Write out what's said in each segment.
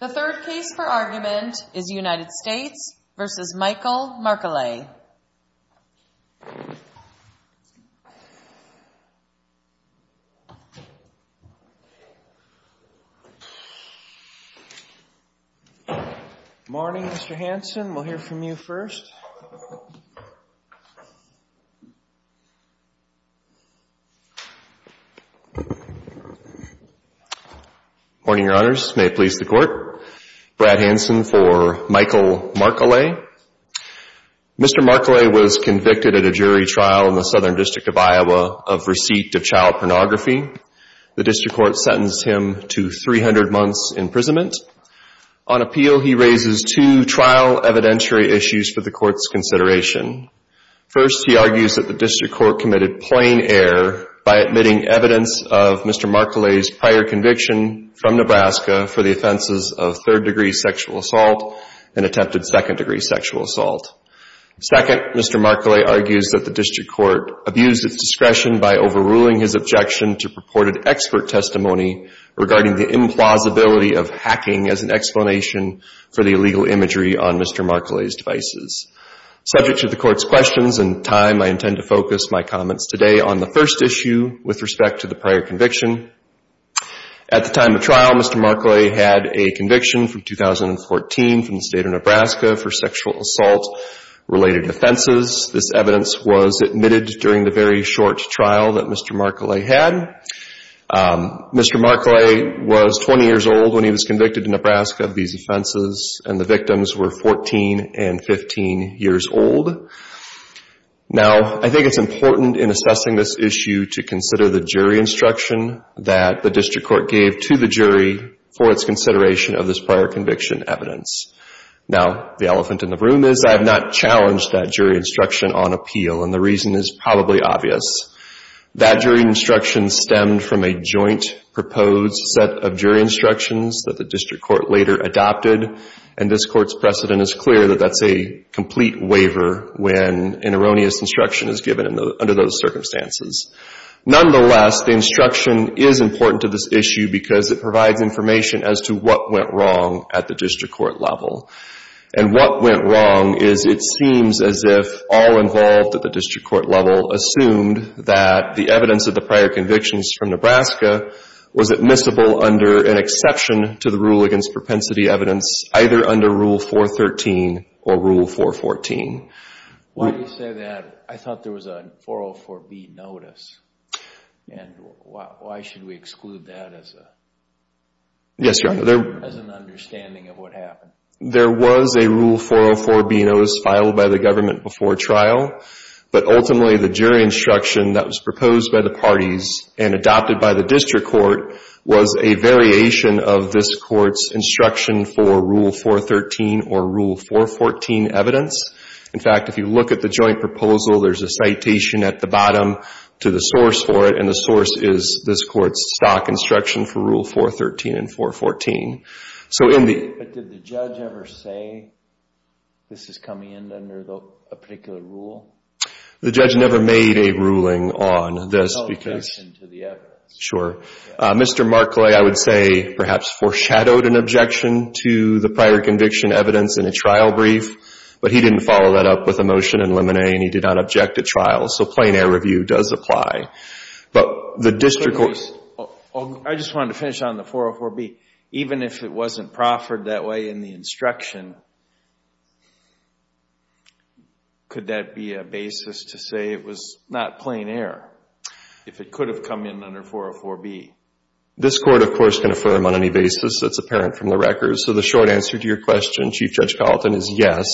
The third case for argument is United States v. Michael Marechale. Good morning, Mr. Hanson. We'll hear from you first. Good morning, Your Honors. May it please the Court. Brad Hanson for Michael Marechale. Mr. Marechale was convicted at a jury trial in the Southern District of Iowa of receipt of child pornography. The District Court sentenced him to 300 months' imprisonment. On appeal, he raises two trial evidentiary issues for the Court's consideration. First, he argues that the District Court committed plain error by admitting evidence of Mr. Marechale's prior conviction from Nebraska for the offenses of third-degree sexual assault and attempted second-degree sexual assault. Second, Mr. Marechale argues that the District Court abused its discretion by overruling his objection to purported expert testimony regarding the implausibility of hacking as an explanation for the illegal imagery on Mr. Marechale's devices. Subject to the Court's questions and time, I intend to focus my comments today on the first issue with respect to the prior conviction. At the time of trial, Mr. Marechale had a conviction from 2014 from the State of Nebraska for sexual assault-related offenses. This evidence was admitted during the very short trial that Mr. Marechale had. Mr. Marechale was 20 years old when he was convicted in Nebraska of these offenses, and the victims were 14 and 15-year-olds. Now, I think it's important in assessing this issue to consider the jury instruction that the District Court gave to the jury for its consideration of this prior conviction evidence. Now, the elephant in the room is I have not challenged that jury instruction on appeal, and the reason is probably obvious. That jury instruction stemmed from a joint proposed set of jury instructions that the District Court later adopted, and this Court's precedent is clear that that's a completely different set of jury instructions. There is no complete waiver when an erroneous instruction is given under those circumstances. Nonetheless, the instruction is important to this issue because it provides information as to what went wrong at the District Court level. And what went wrong is it seems as if all involved at the District Court level assumed that the evidence of the prior convictions from Nebraska was admissible under an exception to the rule against propensity evidence, either under Rule 413 or Rule 414. Why do you say that? I thought there was a 404B notice, and why should we exclude that as an understanding of what happened? There was a Rule 404B notice filed by the government before trial, but ultimately the jury instruction that was proposed by the parties and adopted by the District Court was a variation of this Court's instruction for Rule 413 or Rule 414 evidence. In fact, if you look at the joint proposal, there's a citation at the bottom to the source for it, and the source is this Court's stock instruction for Rule 413 and 414. But did the judge ever say this is coming in under a particular rule? The judge never made a ruling on this. No objection to the evidence. Sure. Mr. Markley, I would say, perhaps foreshadowed an objection to the prior conviction evidence in a trial brief, but he didn't follow that up with a motion in limine and he did not object at trial, so plain air review does apply. I just wanted to finish on the 404B. Even if it wasn't proffered that way in the instruction, could that be a basis to say it was not plain air? If it could have come in under 404B. This Court, of course, can affirm on any basis that's apparent from the record, so the short answer to your question, Chief Judge Gallatin, is yes.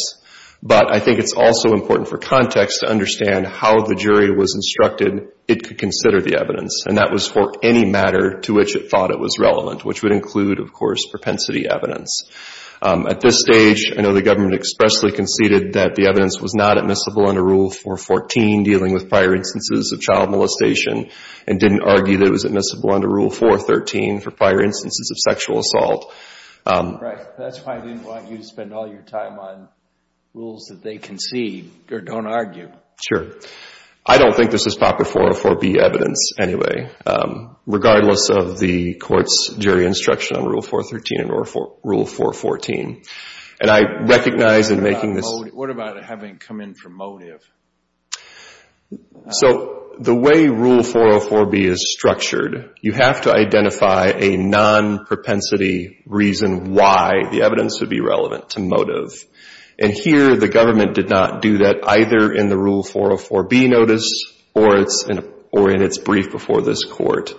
But I think it's also important for context to understand how the jury was instructed it could consider the evidence, and that was for any matter to which it thought it was relevant, which would include, of course, propensity evidence. At this stage, I know the government expressly conceded that the evidence was not admissible under Rule 414 dealing with prior instances of child abuse. I know the government expressly conceded that the evidence was not admissible under Rule 414 dealing with prior instances of child abuse. That's why I didn't want you to spend all your time on rules that they concede or don't argue. Sure. I don't think this is proper 404B evidence anyway, regardless of the Court's jury instruction on Rule 413 and Rule 414. What about it having come in from motive? So the way Rule 404B is structured, you have to identify a non-propensity reason why the evidence would be relevant to motive. And here, the government did not do that, either in the Rule 404B notice or in its brief before this Court.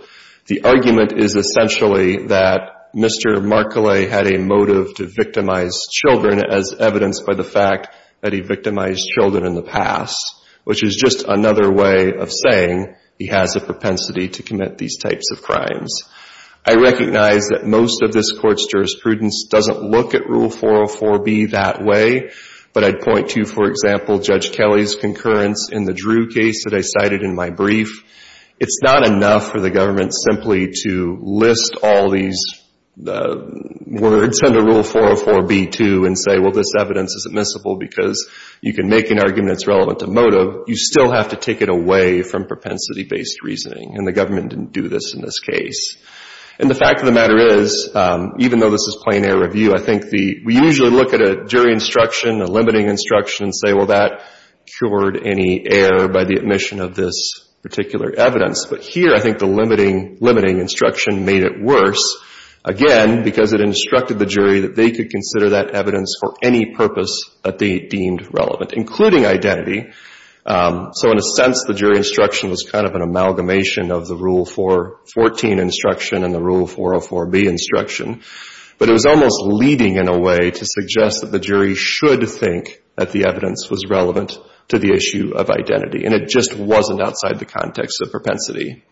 The argument is essentially that Mr. Marcolay had a motive to victimize children as evidenced by the fact that he victimized children in the past. Which is just another way of saying he has a propensity to commit these types of crimes. I recognize that most of this Court's jurisprudence doesn't look at Rule 404B that way. But I'd point to, for example, Judge Kelly's concurrence in the Drew case that I cited in my brief. It's not enough for the government simply to list all these words under Rule 404B, too, and say, well, this evidence is admissible, because you can make an argument that's relevant to motive, you still have to take it away from propensity-based reasoning. And the government didn't do this in this case. And the fact of the matter is, even though this is plain air review, I think we usually look at a jury instruction, a limiting instruction, and say, well, that cured any error by the admission of this particular evidence. But here, I think the limiting instruction made it worse. Again, because it instructed the jury that they could consider that evidence for any purpose that they deemed relevant, including identity. So in a sense, the jury instruction was kind of an amalgamation of the Rule 414 instruction and the Rule 404B instruction. But it was almost leading, in a way, to suggest that the jury should think that the evidence was relevant to the issue of identity. And it just wasn't outside the context of propensity.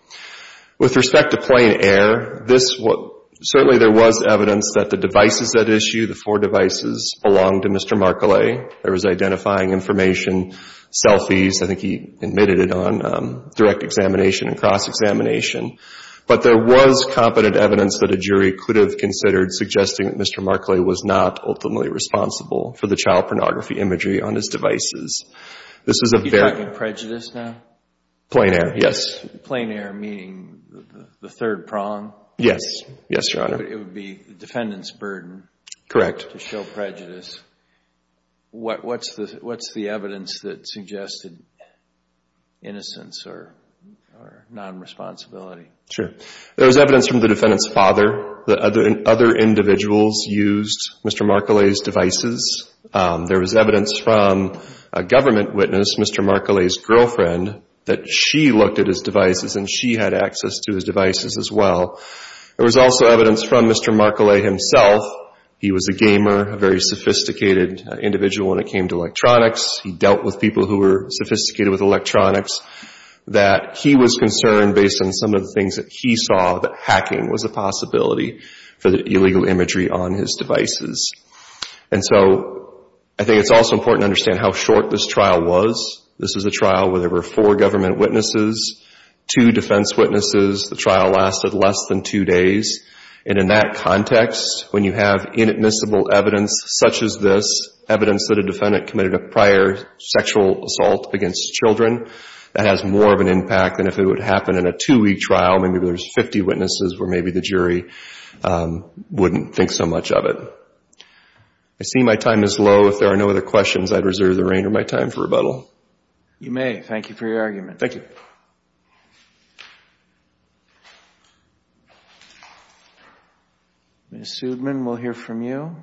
With respect to plain air, certainly there was evidence that the devices at issue, the four devices, belonged to Mr. Markeley. There was identifying information, selfies, I think he admitted it on direct examination and cross-examination. But there was competent evidence that a jury could have considered suggesting that Mr. Markeley was not ultimately responsible for the child pornography imagery on his devices. You're talking prejudice now? Plain air, yes. Plain air meaning the third prong? Yes, Your Honor. It would be the defendant's burden to show prejudice. What's the evidence that suggested innocence or non-responsibility? Sure. There was evidence from the defendant's father that other individuals used Mr. Markeley's devices. There was evidence from a government witness, Mr. Markeley's girlfriend, that she looked at his devices and she had access to his devices as well. There was also evidence from Mr. Markeley himself. He was a gamer, a very sophisticated individual when it came to electronics. He dealt with people who were sophisticated with electronics, that he was concerned based on some of the things that he saw that hacking was a possibility for the illegal imagery on his devices. And so I think it's also important to understand how short this trial was. This is a trial where there were four government witnesses, two defense witnesses. The trial lasted less than two days. And in that context, when you have inadmissible evidence such as this, evidence that a defendant committed a prior sexual assault against children, that has more of an impact than if it would happen in a two-week trial. Maybe there's 50 witnesses where maybe the jury wouldn't think so much of it. I see my time is low. If there are no other questions, I'd reserve the rein of my time for rebuttal. You may. Thank you for your argument. Thank you. Ms. Sudman, we'll hear from you.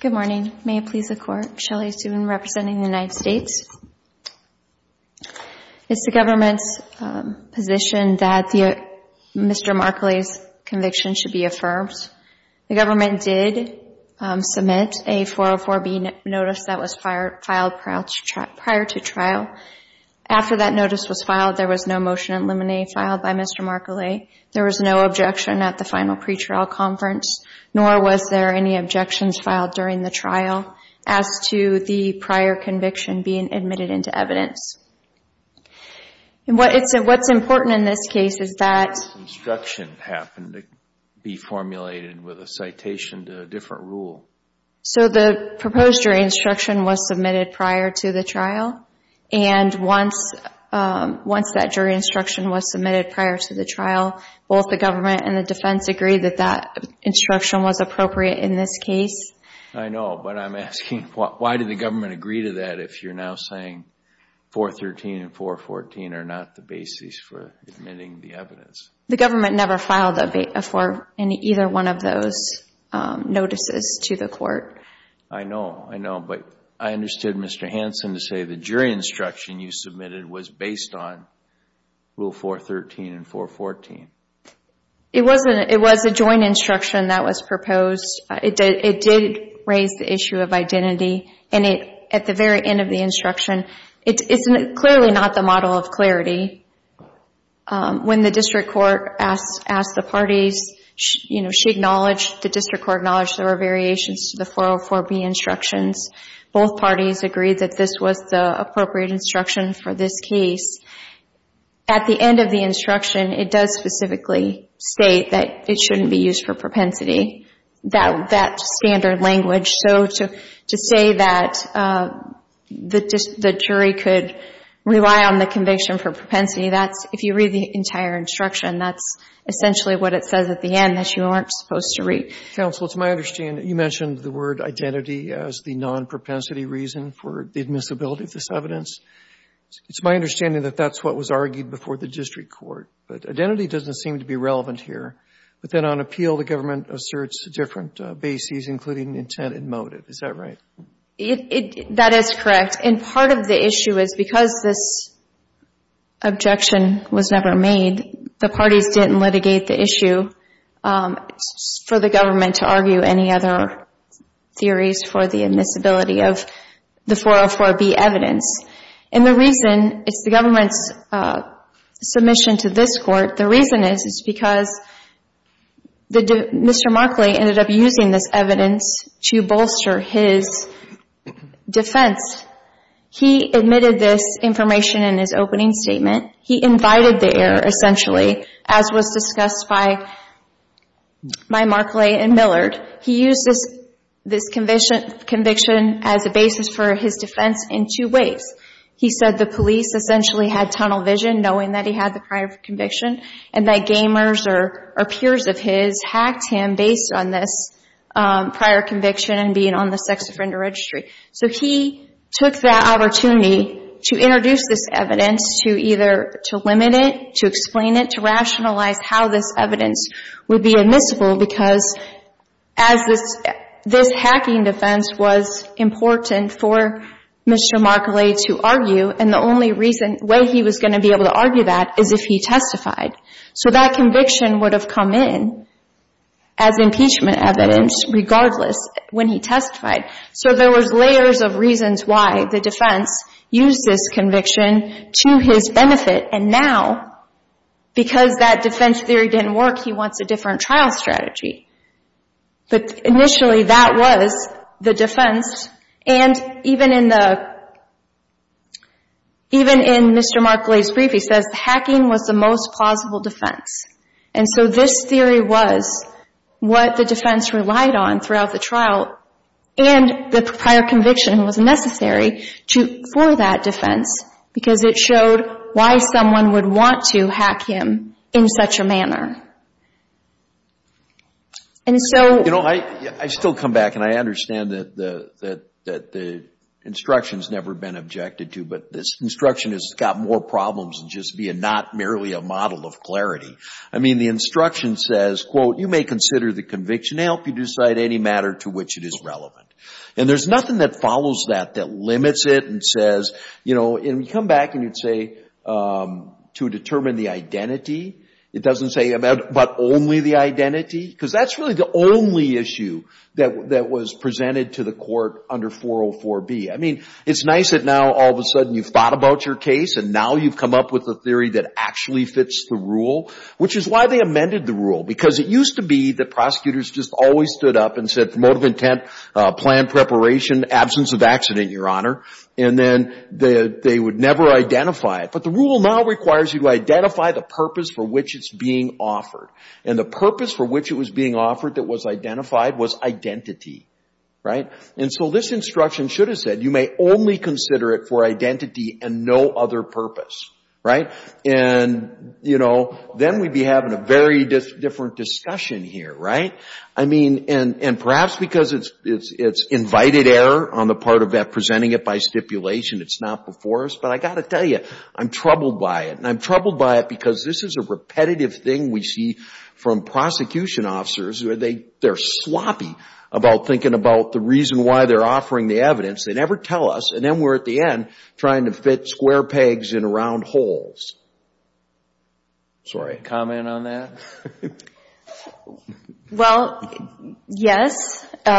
Thank you, Court. Shelley Sudman, representing the United States. It's the government's position that Mr. Markeley's conviction should be affirmed. The government did submit a 404B notice that was filed prior to trial. After that notice was filed, there was no motion in limine filed by Mr. Markeley. There was no objection at the final pretrial conference, nor was there any objections filed during the trial. As to the prior conviction being admitted into evidence. What's important in this case is that... ...instruction happened to be formulated with a citation to a different rule. So the proposed jury instruction was submitted prior to the trial. And once that jury instruction was submitted prior to the trial, both the government and the defense agreed that that instruction was appropriate in this case. I know, but I'm asking, why did the government agree to that if you're now saying 413 and 414 are not the basis for admitting the evidence? The government never filed either one of those notices to the court. I know, I know, but I understood Mr. Hanson to say the jury instruction you submitted was based on rule 413 and 414. It was a joint instruction that was proposed. It did raise the issue of identity. At the very end of the instruction, it's clearly not the model of clarity. When the district court asked the parties, the district court acknowledged there were variations to the 404B instructions. Both parties agreed that this was the appropriate instruction for this case. At the end of the instruction, it does specifically state that it shouldn't be used for propensity, that standard language. So to say that the jury could rely on the conviction for propensity, that's, if you read the entire instruction, that's essentially what it says at the end that you aren't supposed to read. Counsel, it's my understanding that you mentioned the word identity as the non-propensity reason for the admissibility of this evidence. It's my understanding that that's what was argued before the district court. But identity doesn't seem to be relevant here. But then on appeal, the government asserts different bases, including intent and motive. Is that right? That is correct. And part of the issue is because this objection was never made, the parties didn't litigate the issue for the government to argue any other theories for the admissibility of the 404B evidence. And the reason it's the government's submission to this court, the reason is because Mr. Markley ended up using this evidence to bolster his defense. He admitted this information in his opening statement. He invited the error, essentially, as was discussed by Markley and Millard. He used this conviction as a basis for his defense in two ways. He said the police essentially had tunnel vision knowing that he had the prior conviction and that gamers or peers of his hacked him based on this prior conviction and being on the sex offender registry. So he took that opportunity to introduce this evidence to either to limit it, to explain it, to rationalize how this evidence would be admissible because as this hacking defense was important for Mr. Markley to argue, and the only way he was going to be able to argue that is if he testified. So that conviction would have come in as impeachment evidence regardless when he testified. So there was layers of reasons why the defense used this conviction to his benefit. And now, because that defense theory didn't work, he wants a different trial strategy. Initially, that was the defense. And even in Mr. Markley's brief, he says hacking was the most plausible defense. And so this theory was what the defense relied on throughout the trial and the prior conviction was necessary for that defense because it showed why someone would want to hack him in such a manner. And so... This instruction has got more problems than just being not merely a model of clarity. I mean, the instruction says, quote, you may consider the conviction to help you decide any matter to which it is relevant. And there's nothing that follows that that limits it and says, you know, and you come back and you'd say to determine the identity. It doesn't say about only the identity because that's really the only issue that was presented to the court under 404B. I mean, it's nice that now all of a sudden you've thought about your case and now you've come up with a theory that actually fits the rule, which is why they amended the rule. Because it used to be that prosecutors just always stood up and said motive of intent, plan preparation, absence of accident, Your Honor. And then they would never identify it. But the rule now requires you to identify the purpose for which it's being offered. And the purpose for which it was being offered that was identified was identity. And so this instruction should have said you may only consider it for identity and no other purpose. Then we'd be having a very different discussion here. And perhaps because it's invited error on the part of presenting it by stipulation, it's not before us. But I've got to tell you, I'm troubled by it. And I'm troubled by it because this is a repetitive thing we see from prosecution officers. They're sloppy about thinking about the reason why they're offering the evidence. They never tell us. And then we're at the end trying to fit square pegs in round holes. Sorry, comment on that? Well, yes. In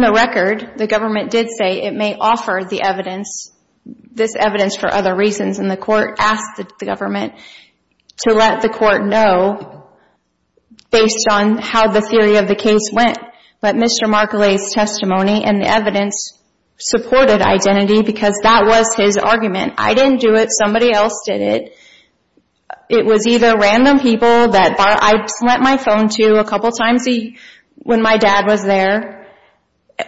the record, the government did say it may offer the evidence, this evidence for other reasons. And the court asked the government to let the court know based on how the theory of the case went. But Mr. Marcolay's testimony and the evidence supported identity because that was his argument. I didn't do it. Somebody else did it. It was either random people that I lent my phone to a couple times when my dad was there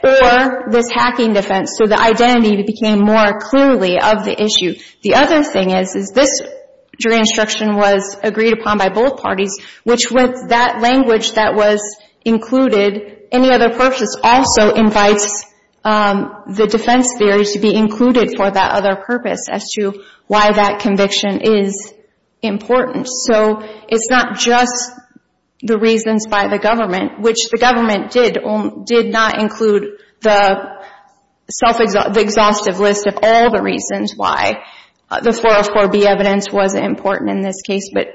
or this hacking defense. So the identity became more clearly of the issue. The other thing is this jury instruction was agreed upon by both parties which with that language that was included, any other purpose also invites the defense theories to be included for that other purpose as to why that conviction is important. So it's not just the reasons by the government, which the government did not include the self-exhaustive list of all the reasons why the 404B evidence was important in this case. But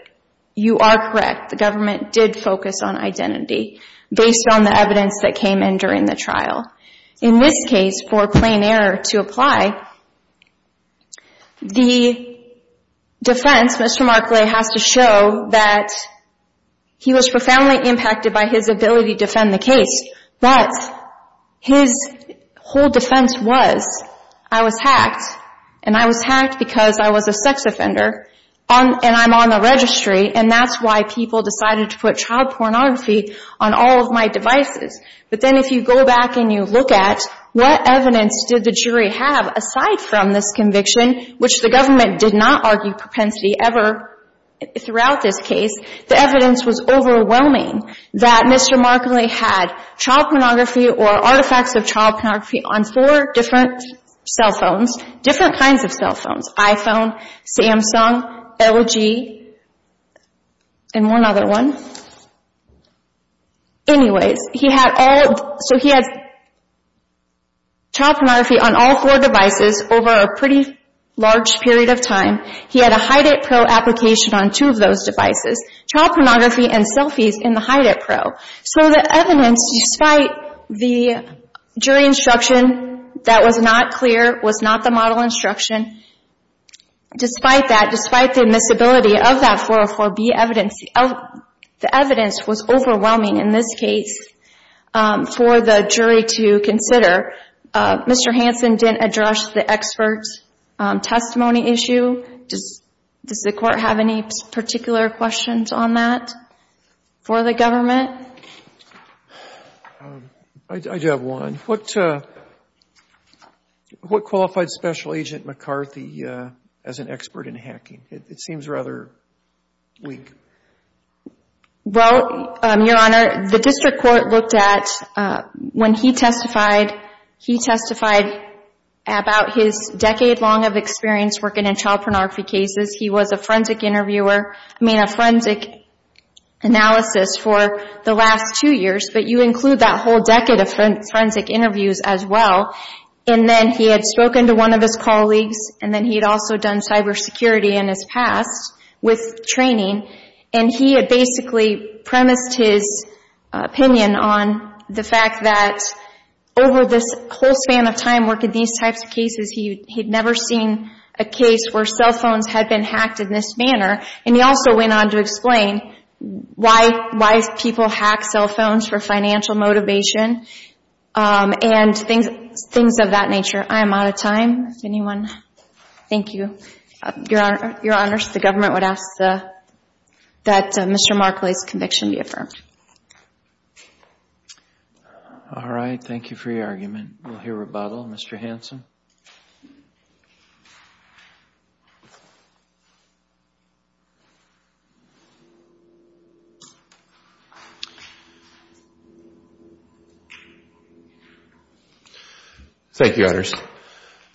you are correct. The government did focus on identity based on the evidence that came in during the trial. In this case, for plain error to apply, the defense, Mr. Marcolay has to show that he was profoundly impacted by his ability to defend the case. But his whole defense was, I was hacked and I was hacked because I was a sex offender and I'm on the registry and that's why people decided to put child pornography on all of my devices. But then if you go back and you look at what evidence did the jury have aside from this conviction, which the government did not argue propensity ever throughout this case, the evidence was overwhelming that Mr. Marcolay had child pornography or artifacts of child pornography on four different cell phones, different kinds of cell phones, iPhone, Samsung, LG, and one other one. Anyways, he had all, so he had child pornography on all four devices over a pretty large period of time. He had a HiDetPro application on two of those devices. Child pornography and selfies in the HiDetPro. So the evidence, despite the jury instruction that was not clear, was not the model instruction, despite that, despite the admissibility of that 404B evidence, the evidence was overwhelming in this case for the jury to consider. Mr. Hansen didn't address the expert testimony issue. Does the court have any particular questions on that for the government? I do have one. What qualified Special Agent McCarthy as an expert in hacking? It seems rather weak. Well, Your Honor, the district court looked at, when he testified, he testified about his decade-long experience working in child pornography cases. He was a forensic interviewer, I mean, a forensic analysis for the last two years, but you include that whole decade of forensic interviews as well. And then he had spoken to one of his colleagues, and then he had also done cybersecurity in his past with training, and he had basically premised his opinion on the fact that over this whole span of time working these types of cases, he had never seen a case where cell phones had been hacked in this manner. And he also went on to explain why people hack cell phones for financial motivation and things of that nature. I am out of time. Anyone? Thank you. Your Honors, the government would ask that Mr. Markley's conviction be affirmed. All right. Thank you for your argument. We'll hear rebuttal. Mr. Hanson? Thank you, Your Honors.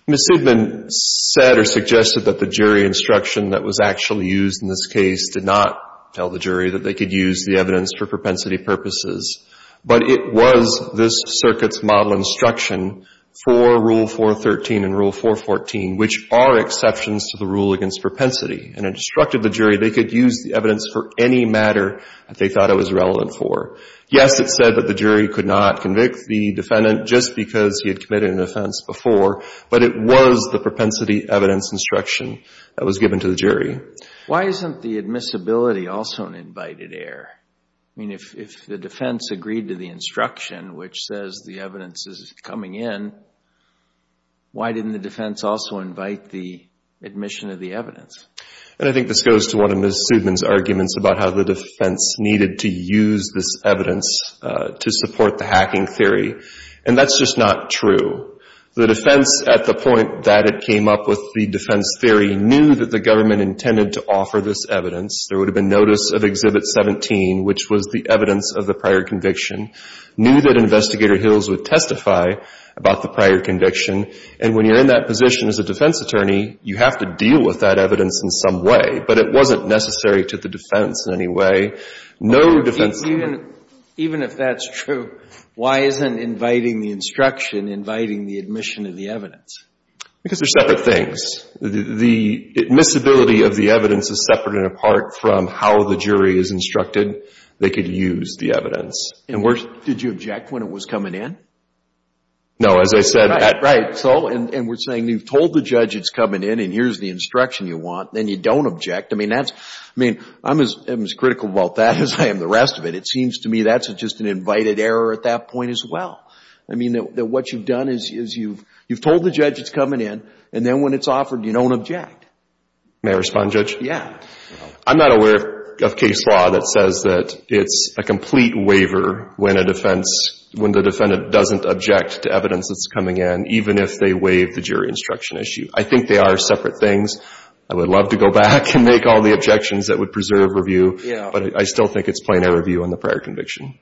Ms. Siegman said or suggested that the jury instruction that was actually used in this case did not tell the jury that they could use the evidence for propensity purposes, but it was this circuit's model instruction for Rule 413 and Rule 414, which are exceptions to the rule against propensity. And it instructed the jury they could use the evidence for any matter that they thought it was relevant for. Yes, it said that the jury could not convict the defendant just because he had committed an offense before, but it was the propensity evidence instruction that was given to the jury. Why isn't the admissibility also an invited error? I mean, if the defense agreed to the instruction, which says the evidence is coming in, why didn't the defense also invite the admission of the evidence? And I think this goes to one of Ms. Siegman's arguments about how the defense needed to use this evidence to support the hacking theory, and that's just not true. The defense, at the point that it came up with the defense theory, knew that the government intended to offer this evidence. There would have been notice of Exhibit 17, which was the evidence of the prior conviction, knew that Investigator Hills would testify about the prior conviction, and when you're in that position as a defense attorney, you have to deal with that evidence in some way, but it wasn't necessary to the defense in any way. No defense can do that. Because they're separate things. The admissibility of the evidence is separate and apart from how the jury is instructed. They could use the evidence. Did you object when it was coming in? No, as I said. And we're saying you've told the judge it's coming in and here's the instruction you want, then you don't object. I mean, I'm as critical about that as I am the rest of it. It seems to me that's just an undivided error at that point as well. I mean, what you've done is you've told the judge it's coming in, and then when it's offered, you don't object. May I respond, Judge? Yeah. I'm not aware of case law that says that it's a complete waiver when the defendant doesn't object to evidence that's coming in, even if they waive the jury instruction issue. I think they are separate things. I would love to go back and make all the objections that would preserve review, but I still think it's plain error view on the prior conviction.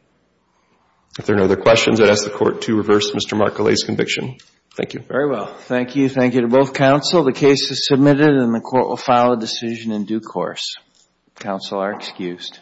If there are no other questions, I'd ask the Court to reverse Mr. Marcolay's conviction. Thank you. Very well. Thank you. Thank you to both counsel. The case is submitted and the Court will file a decision in due course. Counsel are excused.